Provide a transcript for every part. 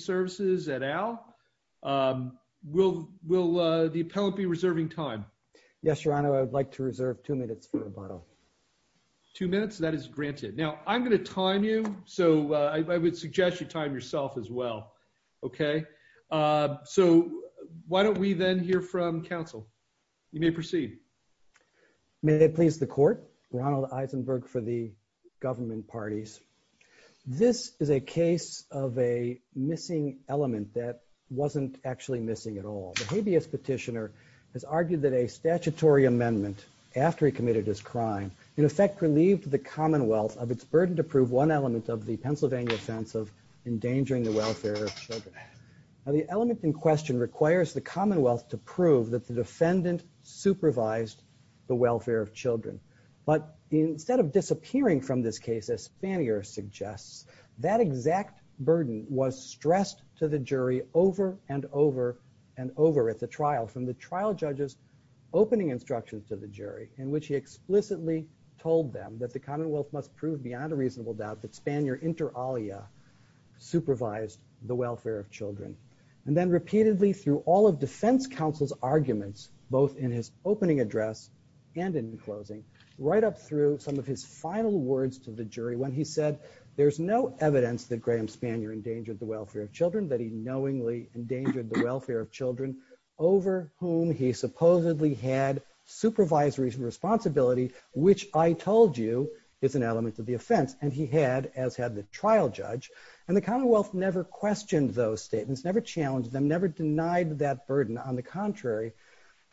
Services at Al. Will the appellant be reserving time? Yes, your honor. I would like to reserve two minutes for rebuttal. Two minutes? That is granted. Now I'm going to time you, so I would suggest you time yourself as well. Okay, so why don't we then hear from counsel? You may proceed. May it please the court. Ronald Eisenberg for the government parties. This is a case of a missing element that wasn't actually missing at all. The habeas petitioner has argued that a statutory amendment after he committed his crime in effect relieved the commonwealth of its burden to prove one element of the Pennsylvania offense of endangering the welfare of children. Now the element in question requires the commonwealth to prove that the defendant supervised the welfare of children, but instead of disappearing from this case, as Spanier suggests, that exact burden was stressed to the jury over and over and over at the trial from the trial judges opening instructions to the jury in which he explicitly told them that the commonwealth must prove beyond a reasonable doubt that Spanier inter alia supervised the welfare of children. And then repeatedly through all of defense counsel's arguments, both in his opening address and in closing, right up through some of his final words to the jury when he said there's no evidence that Graham Spanier endangered the welfare of children, that he knowingly endangered the welfare of children over whom he supposedly had supervisory responsibility, which I told you is an element of the offense. And he had, as had the trial judge, and the commonwealth never questioned those statements, never challenged them, never denied that burden. On the contrary,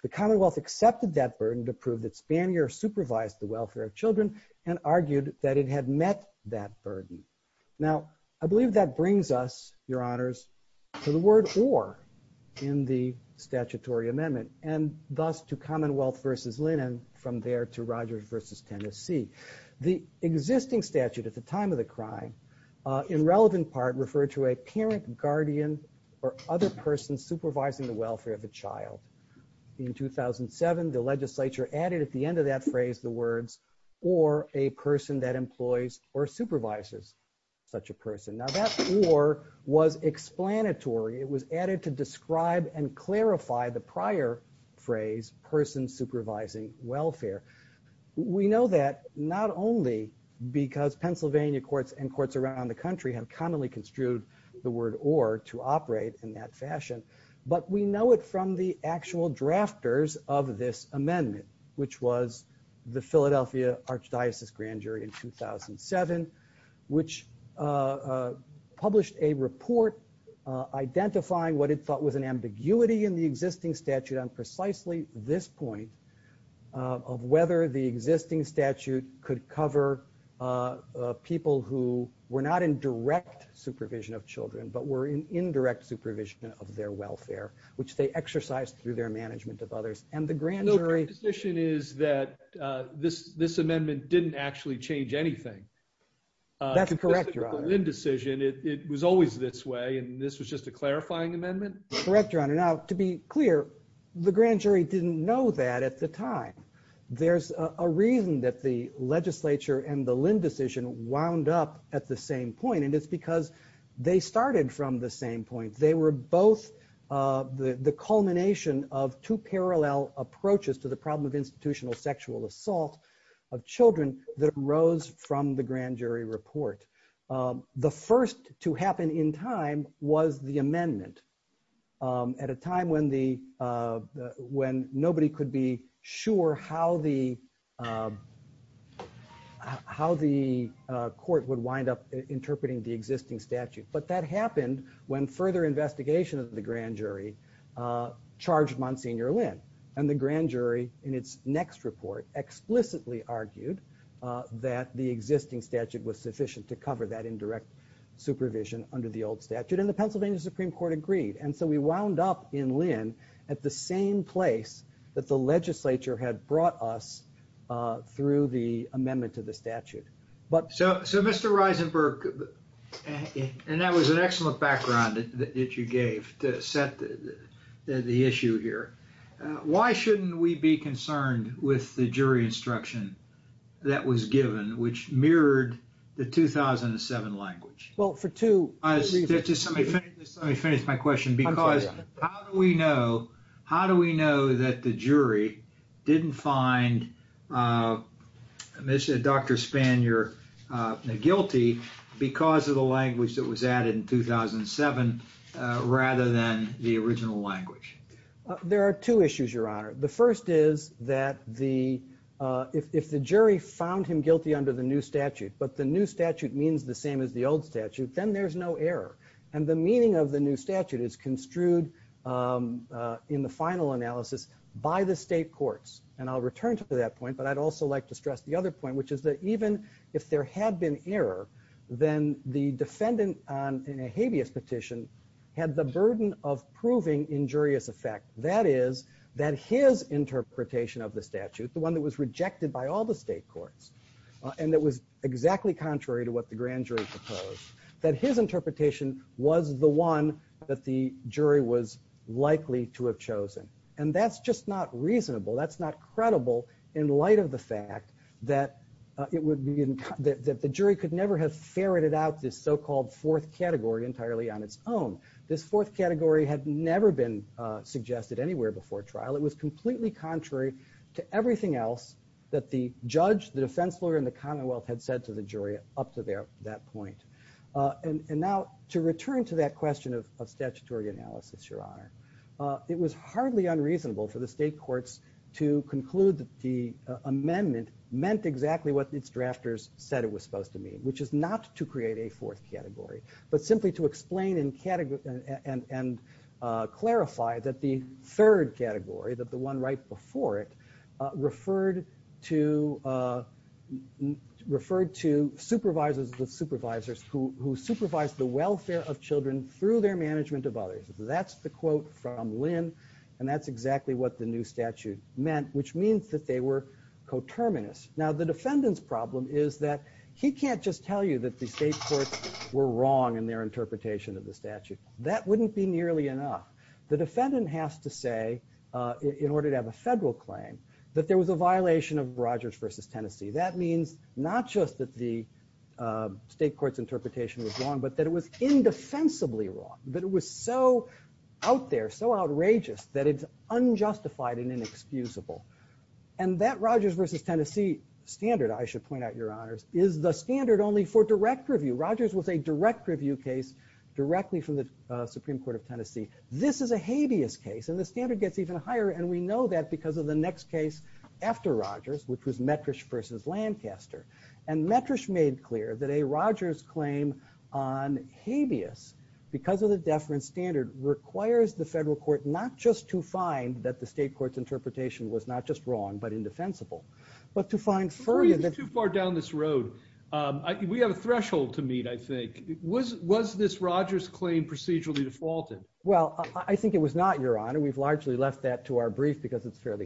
the commonwealth accepted that burden to prove that Spanier supervised the welfare of children and argued that it had met that burden. Now I believe that brings us, your honors, to the word or in the statutory amendment and thus to commonwealth versus linen from there to Rogers versus Tennessee. The existing statute at the time of the crime in relevant part referred to a parent, guardian, or other person supervising the welfare of the child. In 2007, the legislature added at the end of that phrase the words or a person that employs or supervises such a person. Now that or was explanatory. It was added to describe and clarify the prior phrase person supervising welfare. We know that not only because Pennsylvania courts and courts around the country have commonly construed the word or to operate in that fashion, but we know it from the actual drafters of this amendment, which was the Philadelphia Archdiocese Grand Jury in 2007, which published a report identifying what it thought was an existing statute on precisely this point of whether the existing statute could cover people who were not in direct supervision of children, but were in indirect supervision of their welfare, which they exercised through their management of others. And the grand jury decision is that this amendment didn't actually change anything. That's correct, your honor. Indecision, it was always this way and this was just a clarifying amendment. Correct, your honor. Now to be clear, the grand jury didn't know that at the time. There's a reason that the legislature and the Lynn decision wound up at the same point and it's because they started from the same point. They were both the culmination of two parallel approaches to the problem of institutional sexual assault of children that arose from the grand jury report. The first to happen in time was the when nobody could be sure how the court would wind up interpreting the existing statute, but that happened when further investigation of the grand jury charged Monsignor Lynn and the grand jury in its next report explicitly argued that the existing statute was sufficient to cover that indirect supervision under the old statute and the at the same place that the legislature had brought us through the amendment to the statute. So, Mr. Reisenberg, and that was an excellent background that you gave to set the issue here, why shouldn't we be concerned with the jury instruction that was given which mirrored the 2007 language? Well, for two reasons. Let me finish my question because how do we know how do we know that the jury didn't find Dr. Spanier guilty because of the language that was added in 2007 rather than the original language? There are two issues, Your Honor. The first is that if the jury found him guilty under the new statute, but the new statute means the same as the old statute, then there's no error and the meaning of the new statute is construed in the final analysis by the state courts. And I'll return to that point, but I'd also like to stress the other point, which is that even if there had been error, then the defendant on a habeas petition had the burden of proving injurious effect. That is, that his interpretation of the statute, the one that was rejected by all the state courts and that was exactly contrary to the grand jury proposed, that his interpretation was the one that the jury was likely to have chosen. And that's just not reasonable. That's not credible in light of the fact that it would be that the jury could never have ferreted out this so-called fourth category entirely on its own. This fourth category had never been suggested anywhere before trial. It was completely contrary to everything else that the judge, the defense lawyer, and the commonwealth had said to the jury up to that point. And now to return to that question of statutory analysis, your honor, it was hardly unreasonable for the state courts to conclude that the amendment meant exactly what its drafters said it was supposed to mean, which is not to create a fourth category, but simply to explain and clarify that the third category, that the one right before it, to refer to supervisors with supervisors who supervised the welfare of children through their management of others. That's the quote from Lynn and that's exactly what the new statute meant, which means that they were coterminous. Now the defendant's problem is that he can't just tell you that the state courts were wrong in their interpretation of the statute. That wouldn't be Rogers versus Tennessee. That means not just that the state court's interpretation was wrong, but that it was indefensibly wrong. That it was so out there, so outrageous, that it's unjustified and inexcusable. And that Rogers versus Tennessee standard, I should point out your honors, is the standard only for direct review. Rogers was a direct review case directly from the Supreme Court of Tennessee. This is a habeas case and the standard gets even higher and we know that because of the next case after Rogers, which was Metrish versus Lancaster. And Metrish made clear that a Rogers claim on habeas, because of the deference standard, requires the federal court not just to find that the state court's interpretation was not just wrong, but indefensible, but to find further... Before you get too far down this road, we have a threshold to meet, I think. Was this Rogers claim procedurally defaulted? Well, I think it was not, your honor. We've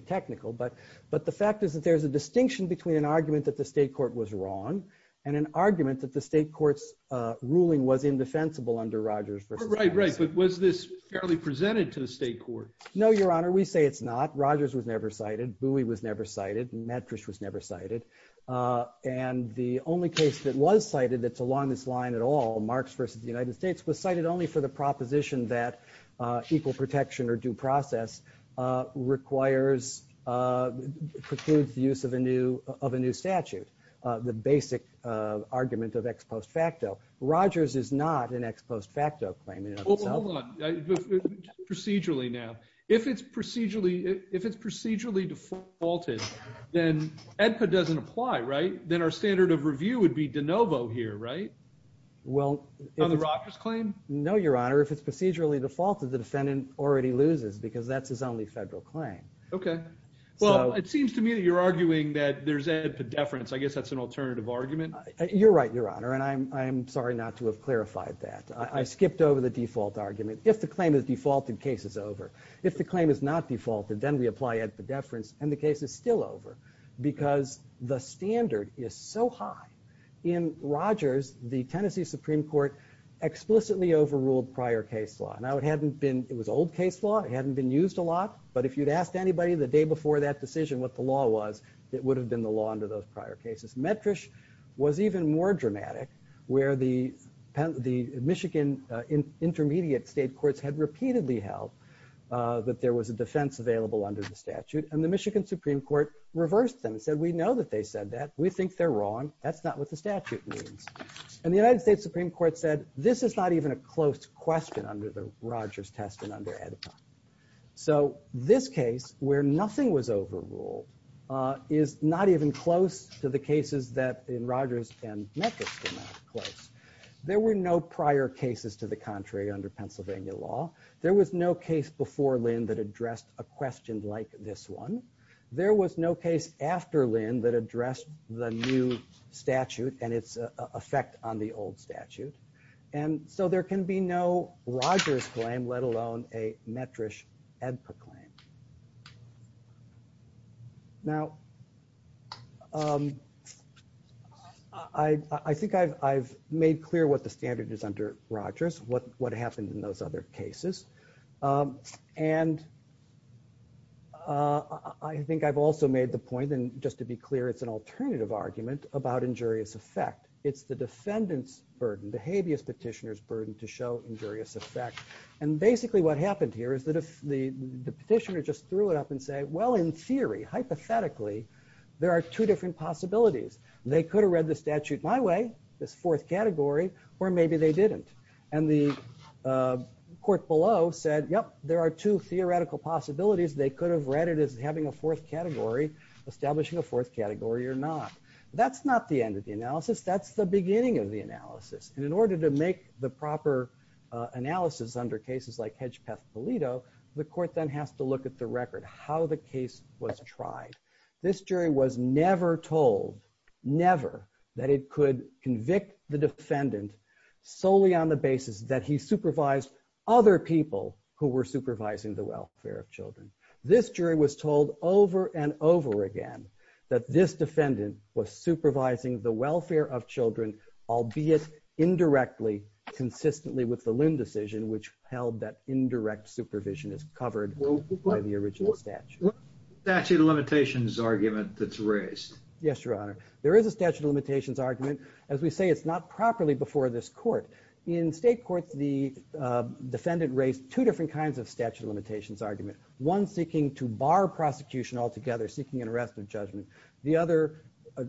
technical, but the fact is that there's a distinction between an argument that the state court was wrong and an argument that the state court's ruling was indefensible under Rogers. Right, right. But was this fairly presented to the state court? No, your honor. We say it's not. Rogers was never cited. Bowie was never cited. Metrish was never cited. And the only case that was cited that's along this line at all, Marx versus the United States, was cited only for the proposition that equal protection or due process requires, precludes the use of a new statute, the basic argument of ex post facto. Rogers is not an ex post facto claim. Hold on, procedurally now. If it's procedurally defaulted, then EDPA doesn't apply, right? Then our standard of review would be de novo here, right? Well, on the Rogers claim? No, your honor. If it's procedurally defaulted, the defendant already loses because that's his only federal claim. Okay. Well, it seems to me that you're arguing that there's a deference. I guess that's an alternative argument. You're right, your honor. And I'm sorry not to have clarified that. I skipped over the default argument. If the claim is defaulted, case is over. If the claim is not defaulted, then we apply at the deference and the case is still over because the standard is so high. In Rogers, the Tennessee Supreme Court explicitly overruled prior case law. Now, it was old case law. It hadn't been used a lot. But if you'd asked anybody the day before that decision what the law was, it would have been the law under those prior cases. Metrish was even more dramatic where the Michigan intermediate state courts had repeatedly held that there was a defense available under the statute. And the Michigan Supreme Court reversed them and said, we know that they said that. We think they're wrong. That's not what the statute means. And the United States Supreme Court said, this is not even a close question under the Rogers test and under ADIPA. So this case where nothing was overruled is not even close to the cases that in Rogers and Metrish were not close. There were no prior cases to the contrary under Pennsylvania law. There was no case before Lynn that addressed a question like this one. There was no case after Lynn that addressed the new statute and its effect on the old statute. And so there can be no Rogers claim, let alone a Metrish ADIPA claim. Now, I think I've made clear what the standard is under Rogers, what happened in those other cases. And I think I've also made the point, and just to be clear, it's an alternative argument about injurious effect. It's the defendant's burden, the habeas petitioner's burden to show injurious effect. And basically what happened here is that if the petitioner just threw it up and say, well, in theory, hypothetically, there are two different possibilities. They could have read the statute my way, this fourth category, or maybe they didn't. And the court below said, yep, there are two theoretical possibilities. They could have read it as having a fourth category, establishing a fourth category or not. That's not the end of the analysis. That's the beginning of the analysis. And in order to make the proper analysis under cases like Hedgepeth-Polito, the court then has to look at the record, how the case was tried. This jury was never told, never, that it could convict the defendant solely on the basis that he supervised other people who were supervising the welfare of children. This jury was told over and over again that this defendant was supervising the welfare of children, albeit indirectly, consistently with the Lynn decision, which held that indirect supervision is covered by the original statute. Statute of limitations argument that's raised. Yes, Your Honor. There is a statute of limitations argument. As we say, it's not properly before this court. In state courts, the defendant raised two different kinds of statute of limitations argument. One seeking to bar prosecution altogether, seeking an arrest of judgment. The other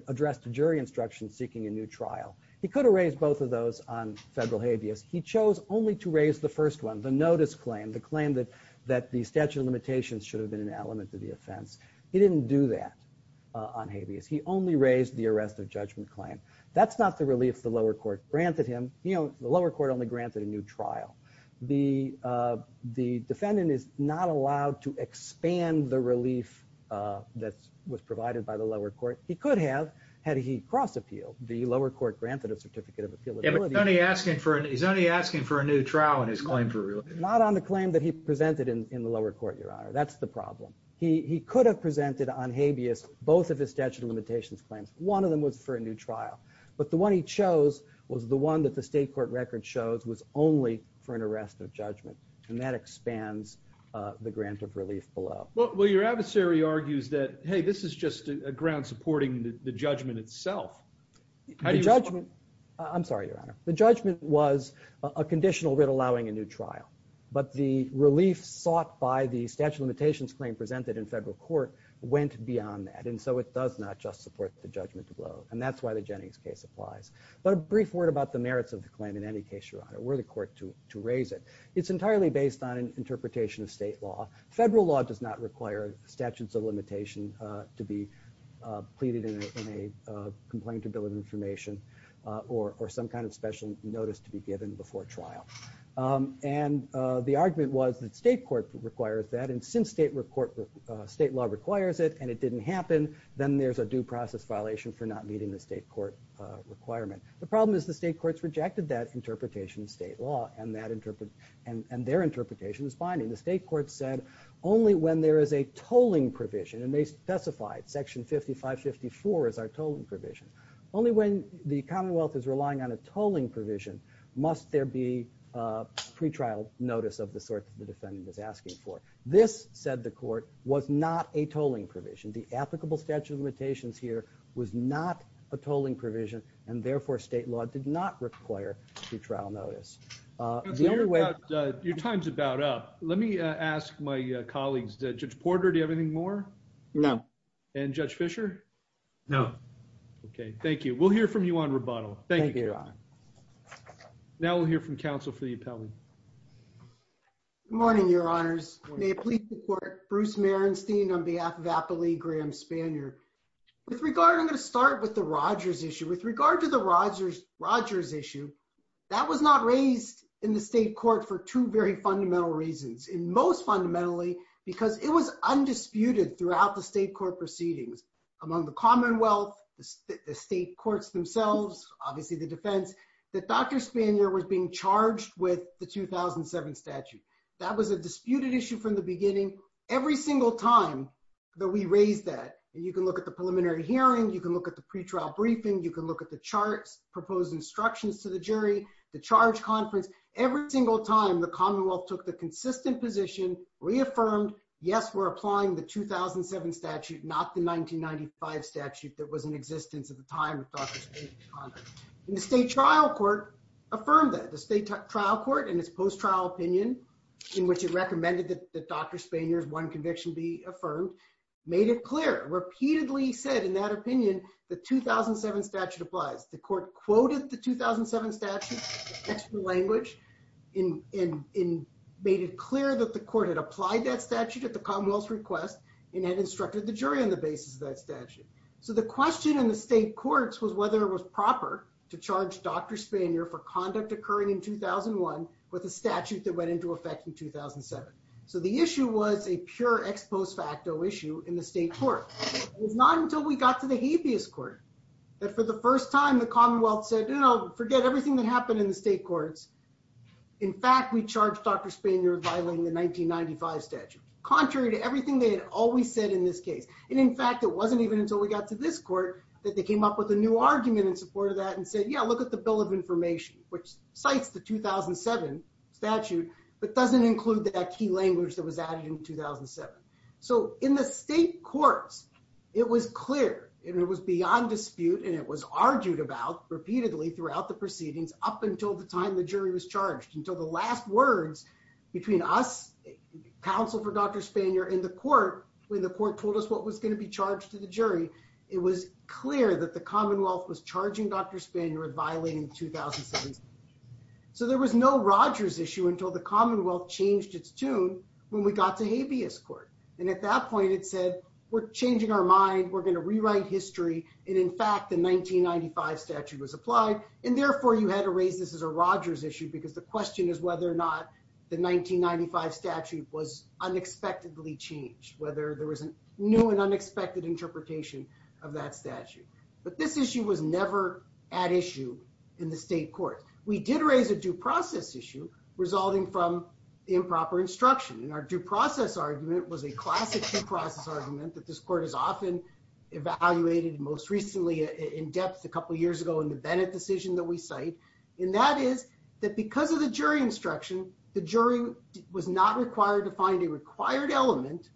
addressed jury instruction, seeking a new trial. He could have raised both of those on federal habeas. He chose only to raise the first one, the notice claim, the claim that the statute of limitations should have been an element to the offense. He didn't do that on habeas. He only raised the arrest of judgment claim. That's not the relief the lower court granted him. You know, the lower court only granted a new trial. The defendant is not allowed to expand the relief that was provided by the lower court. He could have had he cross-appealed. The lower court granted a certificate of trial in his claim for relief. Not on the claim that he presented in the lower court, Your Honor. That's the problem. He could have presented on habeas both of his statute of limitations claims. One of them was for a new trial. But the one he chose was the one that the state court record shows was only for an arrest of judgment. And that expands the grant of relief below. Well, your adversary argues that, hey, this is just a ground supporting the judgment itself. The judgment, I'm sorry, Your Honor. The judgment was a conditional writ allowing a new trial. But the relief sought by the statute of limitations claim presented in federal court went beyond that. And so it does not just support the judgment below. And that's why the Jennings case applies. But a brief word about the merits of the claim in any case, Your Honor, were the court to raise it. It's entirely based on an interpretation of state law. Federal law does not require statutes of limitation to be pleaded in a complaint to bill of information or some kind of special notice to be given before trial. And the argument was that state court requires that. And since state law requires it and it didn't happen, then there's a due process violation for not meeting the state court requirement. The problem is the state courts rejected that interpretation of state law and their interpretation is binding. The state court said only when there is a tolling provision, and they specified section 5554 as our tolling provision, only when the commonwealth is relying on a tolling provision must there be a pretrial notice of the sort that the defendant is asking for. This, said the court, was not a tolling provision. The applicable statute of limitations here was not a tolling provision and therefore state law did not require pretrial notice. Your time's about up. Let me ask my colleagues, Judge Porter, do you have anything more? No. And Judge Fischer? No. Okay, thank you. We'll hear from you on rebuttal. Thank you, Your Honor. Now we'll hear from counsel for the appellant. Good morning, Your Honors. May it please the court, Bruce Merenstein on behalf of Appley Graham Spanier. With regard, I'm going to start with the Rogers issue. With regard to the Rogers issue, that was not raised in the state court for two very fundamental reasons. And most fundamentally because it was undisputed throughout the state court proceedings, among the commonwealth, the state courts themselves, obviously the defense, that Dr. Spanier was being charged with the 2007 statute. That was a disputed issue from the beginning. Every single time that we raised that, and you can look at the preliminary hearing, you can look at the pretrial briefing, you can look at the charts, proposed instructions to the jury, the charge conference, every single time the commonwealth took the consistent position, reaffirmed, yes, we're applying the 2007 statute, not the 1995 statute that was in existence at the time of Dr. Spanier's conduct. And the state trial court affirmed that. The state trial court and its post-trial opinion, in which it recommended that Dr. Spanier's one conviction be affirmed, made it clear, repeatedly said, in that opinion, the 2007 statute applies. The court quoted the 2007 statute, the language, and made it clear that the court had applied that statute at the commonwealth's request and had instructed the jury on the basis of that statute. So the question in the state courts was whether it was proper to charge Dr. Spanier for conduct occurring in 2001 with a statute that went into effect in 2007. So the issue was a pure ex post facto issue in the state court. It was not until we got to the habeas court that, for the first time, the commonwealth said, you know, forget everything that happened in the state courts. In fact, we charged Dr. Spanier violating the 1995 statute, contrary to everything they had always said in this case. And in fact, it wasn't even until we got to this court that they came up with a new argument in support of that and said, yeah, look the bill of information, which cites the 2007 statute, but doesn't include that key language that was added in 2007. So in the state courts, it was clear, and it was beyond dispute, and it was argued about repeatedly throughout the proceedings up until the time the jury was charged. Until the last words between us, counsel for Dr. Spanier, and the court, when the court told us what was going to be charged to the jury, it was clear that the commonwealth was charging Dr. Spanier with violating the 2007 statute. So there was no Rogers issue until the commonwealth changed its tune when we got to habeas court. And at that point, it said, we're changing our mind, we're going to rewrite history. And in fact, the 1995 statute was applied. And therefore, you had to raise this as a Rogers issue, because the question is whether or not the 1995 statute was unexpectedly changed, whether there was a new and unexpected interpretation of that statute. But this issue was never at issue in the state court. We did raise a due process issue resulting from improper instruction. And our due process argument was a classic due process argument that this court is often evaluated most recently in depth a couple years ago in the Bennett decision that we cite. And that is that because of the jury instruction, the jury was not required to find a required element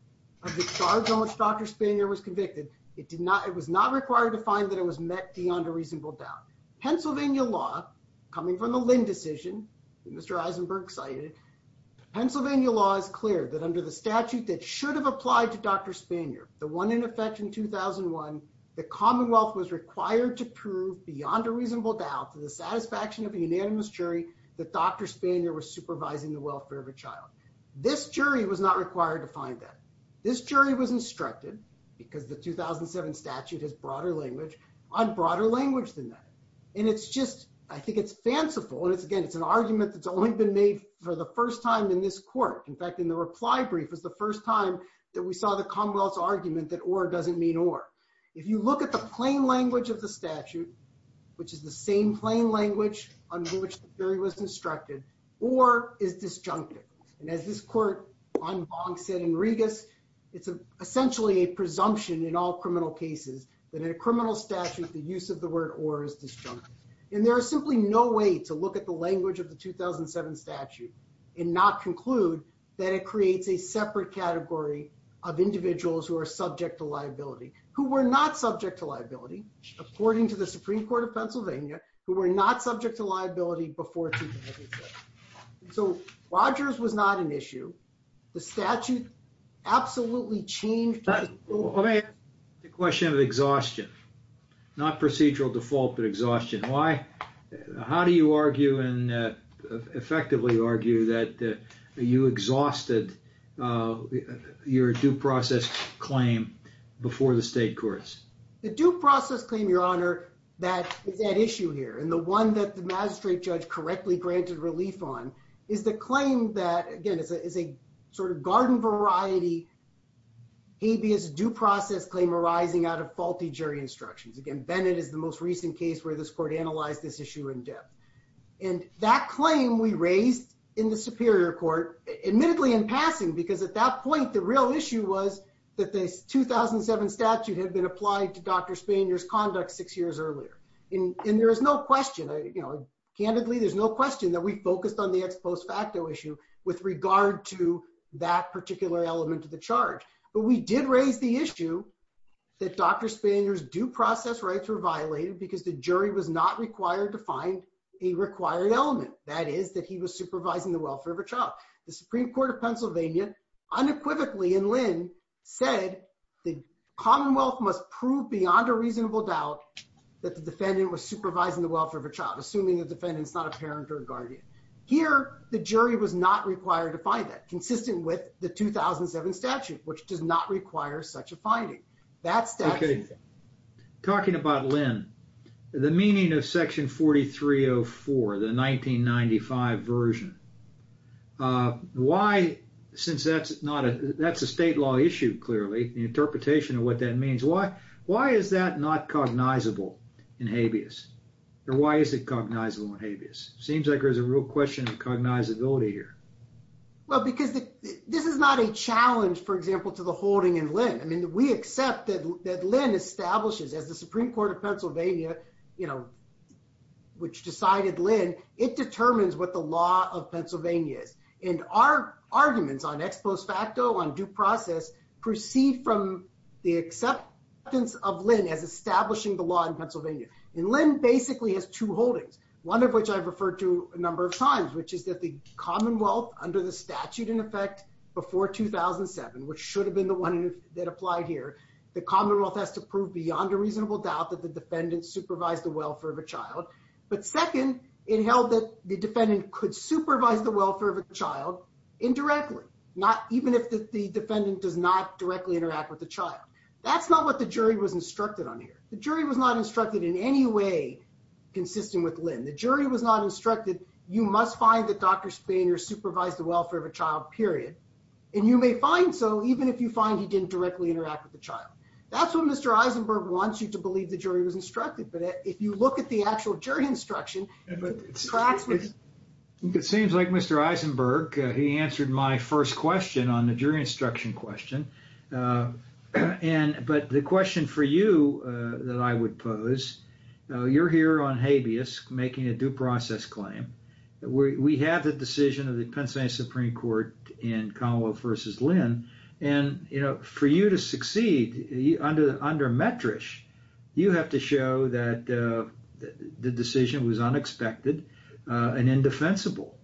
of the charge on which Dr. Spanier was convicted. It did not, it was not required to find that it was met beyond a reasonable doubt. Pennsylvania law, coming from the Lynn decision, Mr. Eisenberg cited, Pennsylvania law is clear that under the statute that should have applied to Dr. Spanier, the one in effect in 2001, the commonwealth was required to prove beyond a reasonable doubt to the satisfaction of a unanimous jury that Dr. Spanier was supervising the welfare of a child. This jury was not required to find that. This 2007 statute has broader language on broader language than that. And it's just, I think it's fanciful. And it's, again, it's an argument that's only been made for the first time in this court. In fact, in the reply brief was the first time that we saw the commonwealth's argument that or doesn't mean or. If you look at the plain language of the statute, which is the same plain language under which the jury was instructed, or is disjunctive. And as this court on Bong said in all criminal cases, that in a criminal statute, the use of the word or is disjunctive. And there is simply no way to look at the language of the 2007 statute and not conclude that it creates a separate category of individuals who are subject to liability, who were not subject to liability, according to the Supreme Court of Pennsylvania, who were not subject to liability before 2006. So Rogers was not an issue. The statute absolutely changed the question of exhaustion, not procedural default, but exhaustion. Why? How do you argue and effectively argue that you exhausted your due process claim before the state courts? The due process claim, Your Honor, that is that issue here. And the one that the magistrate judge correctly granted relief on is the claim that, again, is a sort of garden variety habeas due process claim arising out of faulty jury instructions. Again, Bennett is the most recent case where this court analyzed this issue in depth. And that claim we raised in the Superior Court, admittedly in passing, because at that point, the real issue was that the 2007 statute had been applied to Dr. Spanier's conduct six years earlier. And there is no question, you know, candidly, there's no question that we focused on the ex post facto issue with regard to that particular element of the charge. But we did raise the issue that Dr. Spanier's due process rights were violated because the jury was not required to find a required element. That is that he was supervising the welfare of a child. The Supreme Court of Pennsylvania, unequivocally in Lynn, said the Commonwealth must prove beyond a reasonable doubt that the defendant was supervising the welfare of a child, assuming the defendant is not a parent or a guardian. Here, the jury was not required to find that, consistent with the 2007 statute, which does not require such a finding. That statute... Okay. Talking about Lynn, the meaning of Section 4304, the 1995 version, why, since that's not a, that's a state law issue, clearly, the interpretation of what that means, why is that not cognizable in habeas? Or why is it cognizable in habeas? Seems like there's a real question of cognizability here. Well, because this is not a challenge, for example, to the holding in Lynn. I mean, we accept that Lynn establishes, as the Supreme Court of Pennsylvania, you know, which decided Lynn, it determines what the law of Pennsylvania is. And our arguments on ex post facto, on due process, proceed from the acceptance of Lynn as establishing the law in Pennsylvania. And Lynn basically has two holdings, one of which I've referred to a number of times, which is that the Commonwealth, under the statute, in effect, before 2007, which should have been the one that applied here, the Commonwealth has to prove beyond a reasonable doubt that the defendant supervised the welfare of a child. But second, it held that defendant could supervise the welfare of a child indirectly, not even if the defendant does not directly interact with the child. That's not what the jury was instructed on here. The jury was not instructed in any way, consistent with Lynn, the jury was not instructed, you must find that Dr. Spanier supervised the welfare of a child period. And you may find so even if you find he didn't directly interact with the child. That's what Mr. Eisenberg wants you to believe the jury was It seems like Mr. Eisenberg, he answered my first question on the jury instruction question. And but the question for you, that I would pose, you're here on habeas making a due process claim. We have the decision of the Pennsylvania Supreme Court in Commonwealth versus Lynn. And, you know, for you to succeed under under metrish, you have to show that the decision was unexpected. And indefensible,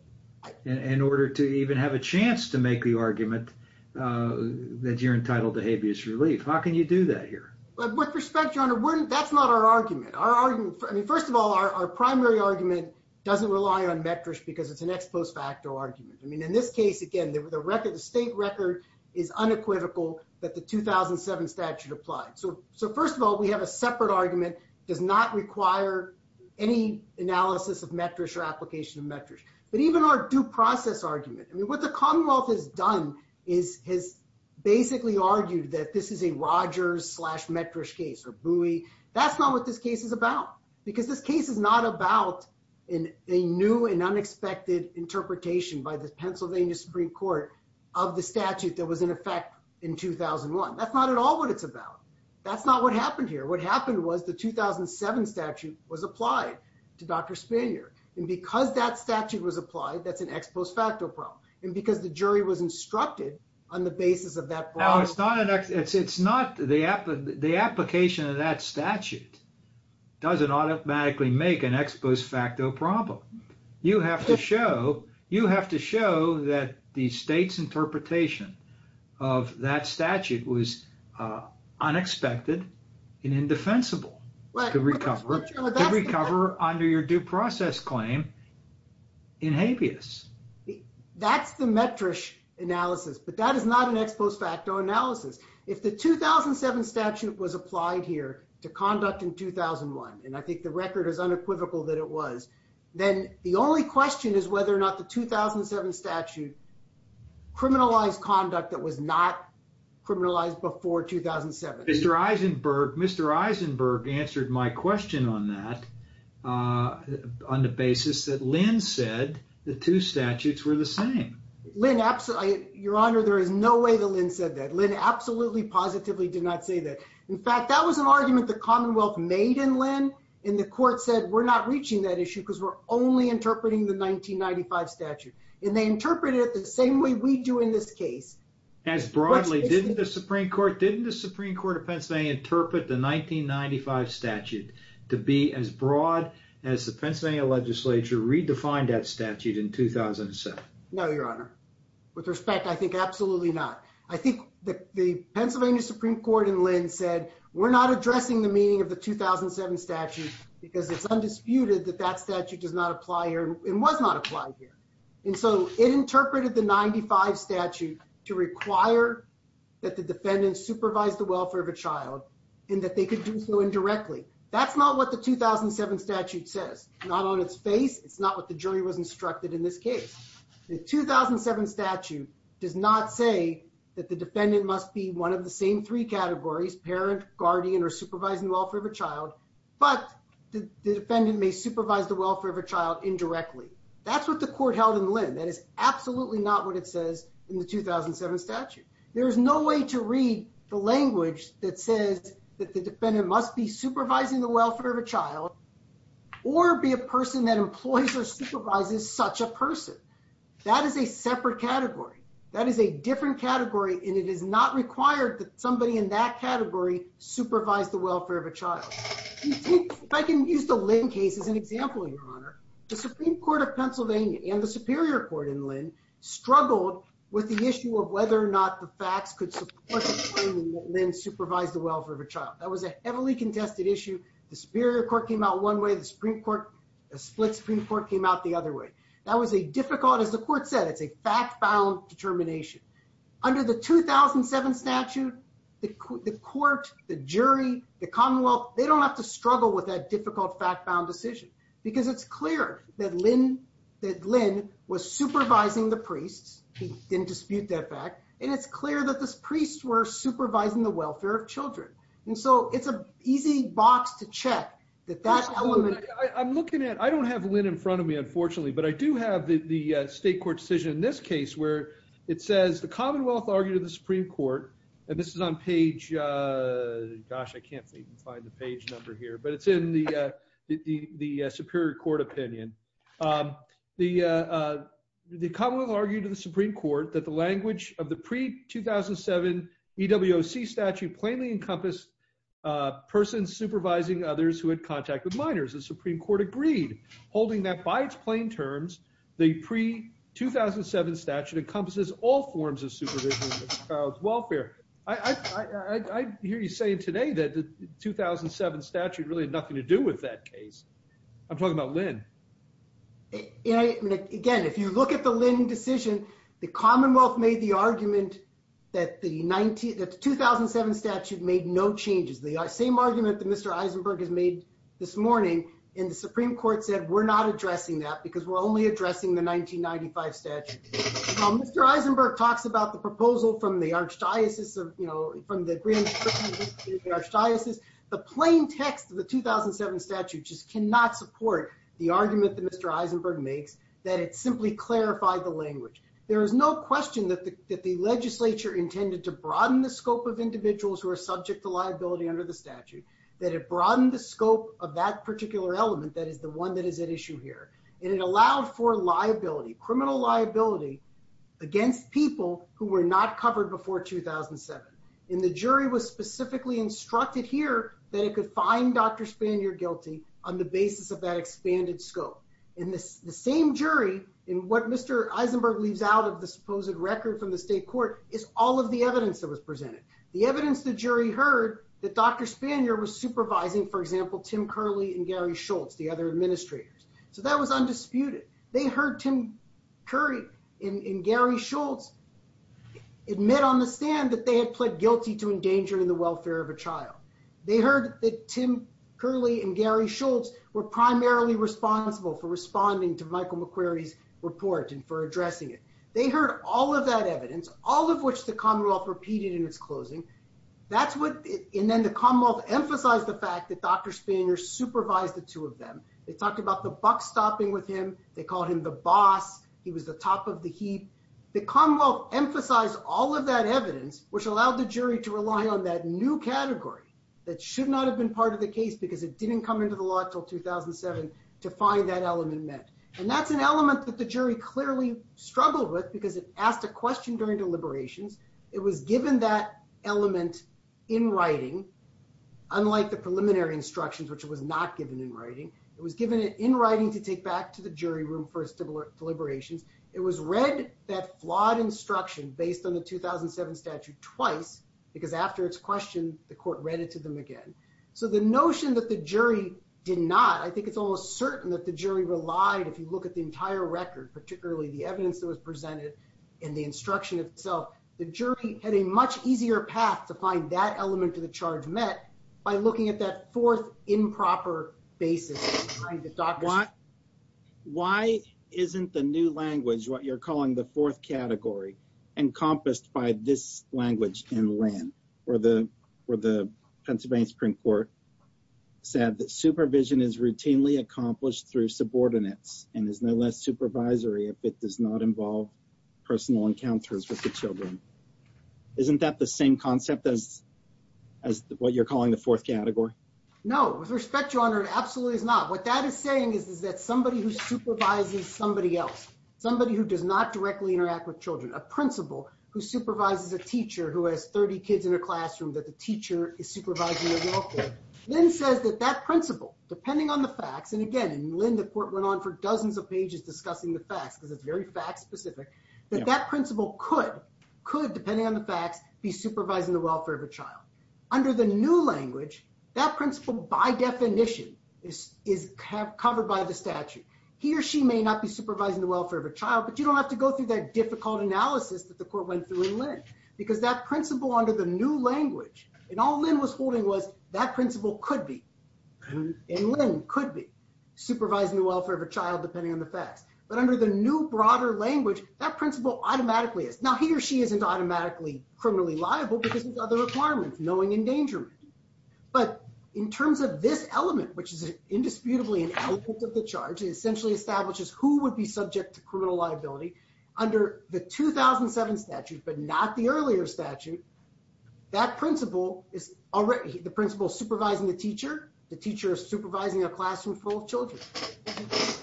in order to even have a chance to make the argument that you're entitled to habeas relief. How can you do that here? With respect, Your Honor, that's not our argument, our argument. I mean, first of all, our primary argument doesn't rely on metrics, because it's an ex post facto argument. I mean, in this case, again, the record, the state record is unequivocal that the 2007 statute applied. So So first of all, we have a separate argument does not require any analysis of metrics or application of metrics. But even our due process argument. I mean, what the Commonwealth has done is has basically argued that this is a Rogers slash metrish case or buoy. That's not what this case is about. Because this case is not about in a new and unexpected interpretation by the Pennsylvania Supreme Court of the statute that was in effect in 2001. That's not at all what it's about. That's not what happened here. What happened was the 2007 statute was applied to Dr. Spanier. And because that statute was applied, that's an ex post facto problem. And because the jury was instructed on the basis of that. Now it's not an it's it's not the the application of that statute doesn't automatically make an ex post facto problem. You have to show you have to show that the state's interpretation of that statute was unexpected and indefensible. Well, to recover, recover under your due process claim in habeas. That's the metrish analysis, but that is not an ex post facto analysis. If the 2007 statute was applied here to conduct in 2001, and I think the record is unequivocal that it was, then the only question is whether or not the 2007 statute criminalized conduct that was not criminalized before 2007. Mr. Eisenberg, Mr. Eisenberg answered my question on that on the basis that Lynn said the two statutes were the same. Lynn, absolutely. Your Honor, there is no way that Lynn said that. Lynn absolutely positively did not say that. In fact, that was an argument the Commonwealth made in Lynn, and the court said we're not reaching that issue because we're only interpreting the 1995 statute, and they interpreted it the same way we do in this case. As broadly, didn't the Supreme Court, didn't the Supreme Court of Pennsylvania interpret the 1995 statute to be as broad as the Pennsylvania legislature redefined that statute in 2007? No, Your Honor. With respect, I think absolutely not. I think the Pennsylvania Supreme Court in Lynn said we're not addressing the meaning of the 2007 statute because it's undisputed that that statute does not apply here and was not applied here, and so it interpreted the 95 statute to require that the defendant supervise the welfare of a child and that they could do so indirectly. That's not what the 2007 statute says. Not on its face. It's not what the jury was instructed in this case. The 2007 statute does not say that the defendant must be one of the same three categories, parent, guardian, or supervising the welfare of a child, but the defendant may supervise the welfare of a child indirectly. That's what the court held in Lynn. That is absolutely not what it says in the 2007 statute. There is no way to read the language that says that the defendant must be supervising the welfare of a child or be a person that employs or supervises such a person. That is a separate category. That is a different category, and it is not required that somebody in that category supervise the welfare of a child. If I can use the Lynn case as an example, Your Honor, the Supreme Court of Pennsylvania and the Superior Court in Lynn struggled with the issue of whether or not the facts could support the claim that Lynn supervised the welfare of a child. That was a heavily contested issue. The Superior Court came out one way. The split Supreme Court came out the other way. That was a difficult, as the court said, it's a fact-bound determination. Under the 2007 statute, the court, the jury, the Commonwealth, they don't have to struggle with that difficult fact-bound decision because it's clear that Lynn was supervising the priests. He didn't dispute that fact, and it's clear that the priests were supervising the welfare of children. It's an easy box to check. I don't have Lynn in front of me, unfortunately, but I do have the state court decision in this case where it says the Commonwealth argued to the Supreme Court, and this is on page, gosh, I can't even find the page number here, but it's in the Superior Court opinion. The Commonwealth argued to the Supreme Court that the language of the pre-2007 EWOC statute plainly encompassed persons supervising others who had contact with minors. The Supreme Court agreed, holding that by its plain terms, the pre-2007 statute encompasses all forms of welfare. I hear you saying today that the 2007 statute really had nothing to do with that case. I'm talking about Lynn. Again, if you look at the Lynn decision, the Commonwealth made the argument that the 2007 statute made no changes. The same argument that Mr. Eisenberg has made this morning, and the Supreme Court said, we're not addressing that because we're only addressing the 1995 statute. Mr. Eisenberg talks about the proposal from the Archdiocese, the plain text of the 2007 statute just cannot support the argument that Mr. Eisenberg makes that it simply clarified the language. There is no question that the legislature intended to broaden the scope of individuals who are subject to liability under the statute, that it broadened the scope of that particular element that is the one that is at issue here. It allowed for liability, criminal liability, against people who were not covered before 2007. The jury was specifically instructed here that it could find Dr. Spanier guilty on the basis of that expanded scope. The same jury, in what Mr. Eisenberg leaves out of the supposed record from the state court, is all of the evidence that was presented. The evidence the jury heard that Dr. Spanier was Tim Curley and Gary Schultz, the other administrators. So that was undisputed. They heard Tim Curley and Gary Schultz admit on the stand that they had pled guilty to endangering the welfare of a child. They heard that Tim Curley and Gary Schultz were primarily responsible for responding to Michael McQuarrie's report and for addressing it. They heard all of that evidence, all of which the Commonwealth repeated in its closing. And then the Commonwealth emphasized the fact that Dr. Spanier supervised the two of them. They talked about the buck stopping with him. They called him the boss. He was the top of the heap. The Commonwealth emphasized all of that evidence, which allowed the jury to rely on that new category that should not have been part of the case because it didn't come into the law until 2007 to find that element met. And that's an element that the jury clearly struggled with because it asked a question during deliberations. It was given that element in writing, unlike the preliminary instructions, which it was not given in writing. It was given it in writing to take back to the jury room for its deliberations. It was read that flawed instruction based on the 2007 statute twice because after its question, the court read it to them again. So the notion that the jury did not, I think it's almost certain that the jury relied, if you look at the entire record, particularly the evidence that was presented and the instruction itself, the jury had a much easier path to find that element to the charge met by looking at that fourth improper basis. Why isn't the new language, what you're calling the fourth category, encompassed by this language in land where the Pennsylvania Supreme Court said that supervision is routinely accomplished through subordinates and is no less supervisory if it does not involve personal encounters with the children. Isn't that the same concept as what you're calling the fourth category? No, with respect, your honor, it absolutely is not. What that is saying is that somebody who supervises somebody else, somebody who does not directly interact with children, a principal who supervises a teacher who has 30 kids in a classroom that the teacher is supervising then says that that principal, depending on the facts, and again, in Lynn, the court went on for dozens of pages discussing the facts because it's very fact specific, that that principal could, depending on the facts, be supervising the welfare of a child. Under the new language, that principal by definition is covered by the statute. He or she may not be supervising the welfare of a child, but you don't have to go through that difficult analysis that the court went through in Lynn because that principal under the new language, and all Lynn was holding was that principal could be, and Lynn could be, supervising the welfare of a child, depending on the facts. But under the new broader language, that principal automatically is. Now, he or she isn't automatically criminally liable because of other requirements, knowing endangerment. But in terms of this element, which is indisputably an element of the charge, it essentially establishes who would be subject to criminal liability under the 2007 statute, but not the earlier statute. That principal is already, the principal supervising the teacher, the teacher is supervising a classroom full of children.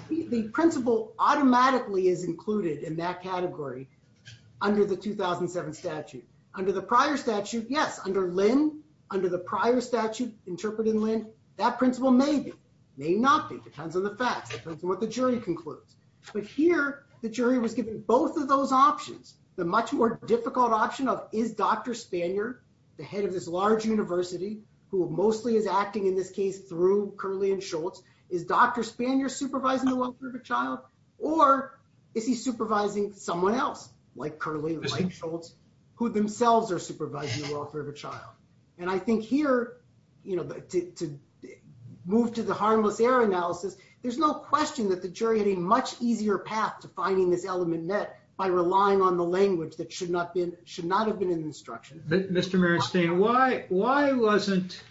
The principal automatically is included in that category under the 2007 statute. Under the prior statute, yes, under Lynn, under the prior statute interpreted in Lynn, that principal may be, may not be, depends on the facts, depends on what the jury concludes. But here, the jury was given both of those options, the much more difficult option of is Dr. Spanier, the head of this large university, who mostly is acting in this case through Curley and Schultz, is Dr. Spanier supervising the welfare of a child, or is he supervising someone else, like Curley, like Schultz, who themselves are supervising the welfare of a child? And I think here, you know, to move to the harmless error analysis, there's no question that the jury had a much easier path to finding this element met by relying on the language that should not have been in the instruction. Mr. Marinstein, why wasn't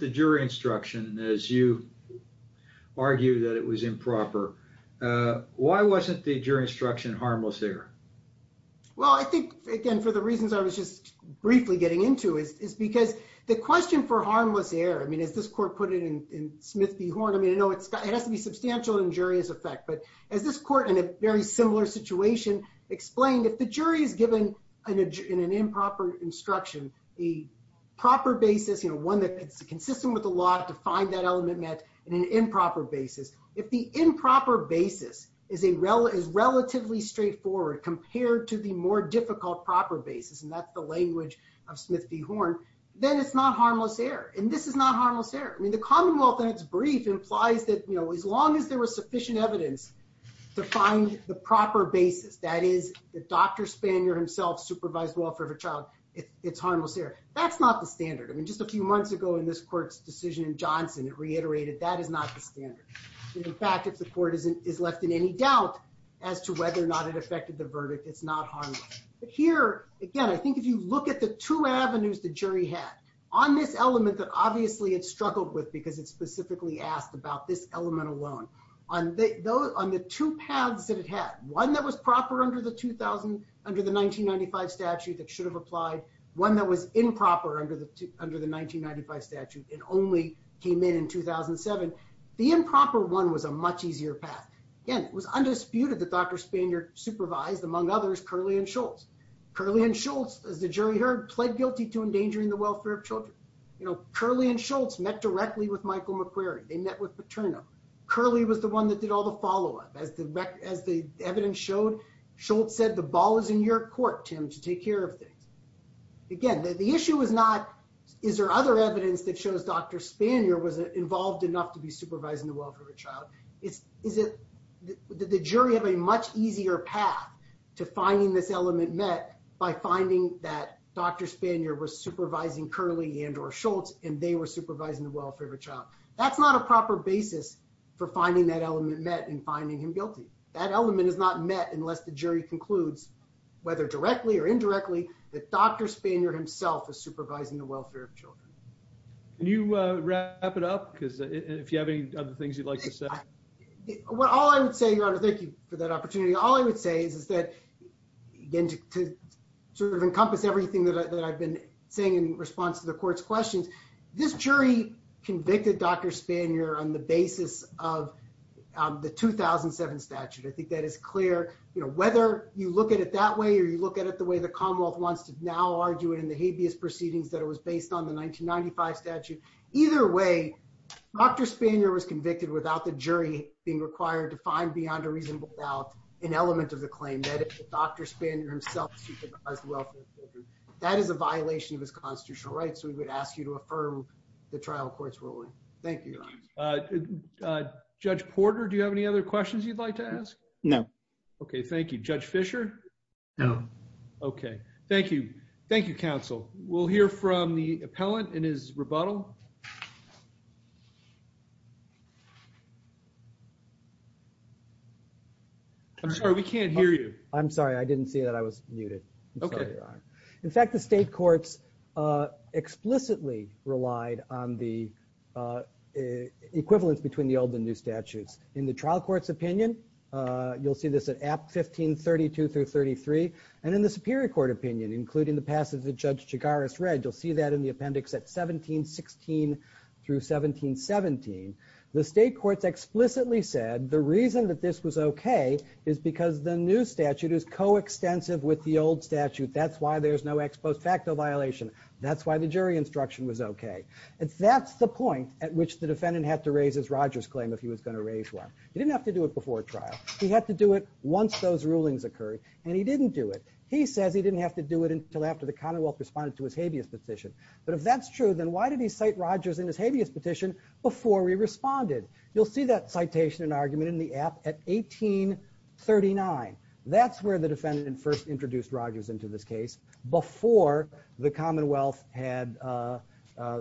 the jury instruction, as you argue that it was improper, why wasn't the jury instruction harmless error? Well, I think, again, for the reasons I was just briefly getting into is because the question for harmless error, I mean, as this court put it in Smith v. Horn, I mean, I know it has to be a similar situation, explained if the jury is given an improper instruction, a proper basis, you know, one that's consistent with the law to find that element met in an improper basis, if the improper basis is relatively straightforward compared to the more difficult proper basis, and that's the language of Smith v. Horn, then it's not harmless error. And this is not harmless error. I mean, the Commonwealth in its brief implies that, you know, as long as there was that is the Dr. Spanier himself supervised welfare of a child, it's harmless error. That's not the standard. I mean, just a few months ago, in this court's decision in Johnson, it reiterated that is not the standard. In fact, if the court is left in any doubt as to whether or not it affected the verdict, it's not harmless. But here, again, I think if you look at the two avenues the jury had on this element that obviously it struggled with, because it specifically asked about this element alone. On the two paths that it had, one that was proper under the 1995 statute that should have applied, one that was improper under the 1995 statute, it only came in in 2007. The improper one was a much easier path. Again, it was undisputed that Dr. Spanier supervised, among others, Curley and Schultz. Curley and Schultz, as the jury heard, pled guilty to endangering the welfare of children. You know, Curley and Schultz met directly with Michael McQuarrie. They met with Michael McQuarrie. Curley was the one that did all the follow-up. As the evidence showed, Schultz said, the ball is in your court, Tim, to take care of things. Again, the issue was not, is there other evidence that shows Dr. Spanier was involved enough to be supervising the welfare of a child? The jury had a much easier path to finding this element met by finding that Dr. Spanier was supervising Curley and or Schultz, and they were supervising the welfare of a child. That's not a proper basis for finding that element met and finding him guilty. That element is not met unless the jury concludes, whether directly or indirectly, that Dr. Spanier himself is supervising the welfare of children. Can you wrap it up, because if you have any other things you'd like to say? Well, all I would say, Your Honor, thank you for that opportunity. All I would say is that, again, to sort of encompass everything that I've been saying in response to the court's questions, this jury convicted Dr. Spanier on the basis of the 2007 statute. I think that is clear. Whether you look at it that way or you look at it the way the Commonwealth wants to now argue it in the habeas proceedings that it was based on, the 1995 statute, either way, Dr. Spanier was convicted without the jury being required to find beyond a reasonable doubt an element of the claim that Dr. Spanier himself supervised the welfare of children. That is a violation of his constitutional rights. We would ask you to affirm the trial court's ruling. Thank you, Your Honor. Judge Porter, do you have any other questions you'd like to ask? No. Okay. Thank you. Judge Fisher? No. Okay. Thank you. Thank you, counsel. We'll hear from the appellant in his rebuttal. I'm sorry. We can't hear you. I'm sorry. I didn't see that. I was muted. Okay. I'm sorry, Your Honor. In fact, the state courts explicitly relied on the equivalence between the old and new statutes. In the trial court's opinion, you'll see this at Act 1532-33. And in the superior court opinion, including the passage that Judge Chigaris read, you'll see that in the appendix at 1716-1717. The state courts explicitly said the reason that this was okay is because the new statute is coextensive with the old statute. That's why there's no ex post facto violation. That's why the jury instruction was okay. That's the point at which the defendant had to raise his Rogers claim if he was going to raise one. He didn't have to do it before trial. He had to do it once those rulings occurred. And he didn't do it. He says he didn't have to do it until after the Commonwealth responded to his habeas petition. But if that's true, then why did he cite Rogers in his habeas petition before he responded? You'll see that in 1839. That's where the defendant first introduced Rogers into this case before the Commonwealth had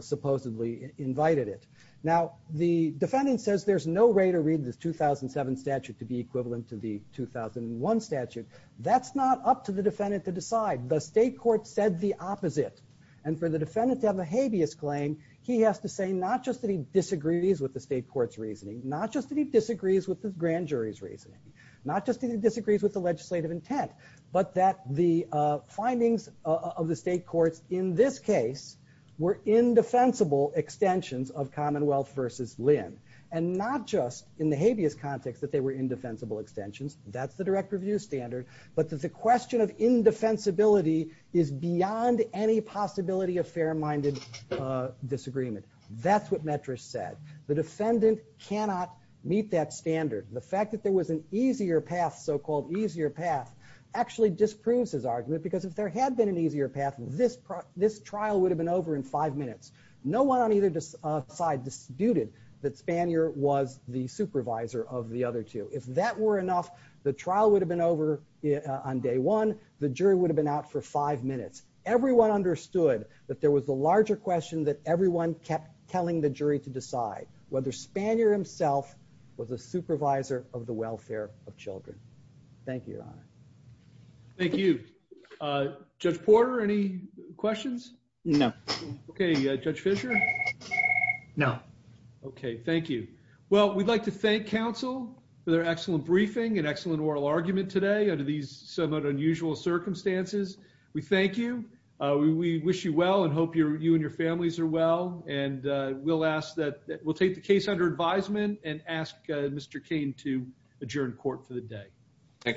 supposedly invited it. Now, the defendant says there's no way to read this 2007 statute to be equivalent to the 2001 statute. That's not up to the defendant to decide. The state court said the opposite. And for the defendant to have a habeas claim, he has to say not just that he disagrees with the state court's reasoning, not just that he disagrees with the grand jury's reasoning, not just that he disagrees with the legislative intent, but that the findings of the state courts in this case were indefensible extensions of Commonwealth versus Lynn, and not just in the habeas context that they were indefensible extensions. That's the direct review standard. But the question of indefensibility is beyond any possibility of fair-minded disagreement. That's what Metrish said. The defendant cannot meet that standard. The fact that there was an easier path, so-called easier path, actually disproves his argument. Because if there had been an easier path, this trial would have been over in five minutes. No one on either side disputed that Spanier was the supervisor of the other two. If that were enough, the trial would have been over on day one. The jury would have been out for five minutes. Everyone understood that there was the larger question that everyone kept telling the jury to decide, whether Spanier himself was a supervisor of the welfare of children. Thank you, Your Honor. Thank you. Judge Porter, any questions? No. Okay, Judge Fisher? No. Okay, thank you. Well, we'd like to thank counsel for their excellent briefing and excellent oral argument today under these somewhat unusual circumstances. We thank you. We wish you well and hope you and your families are well. And we'll take the case under advisement and ask Mr. Kane to adjourn court for the day.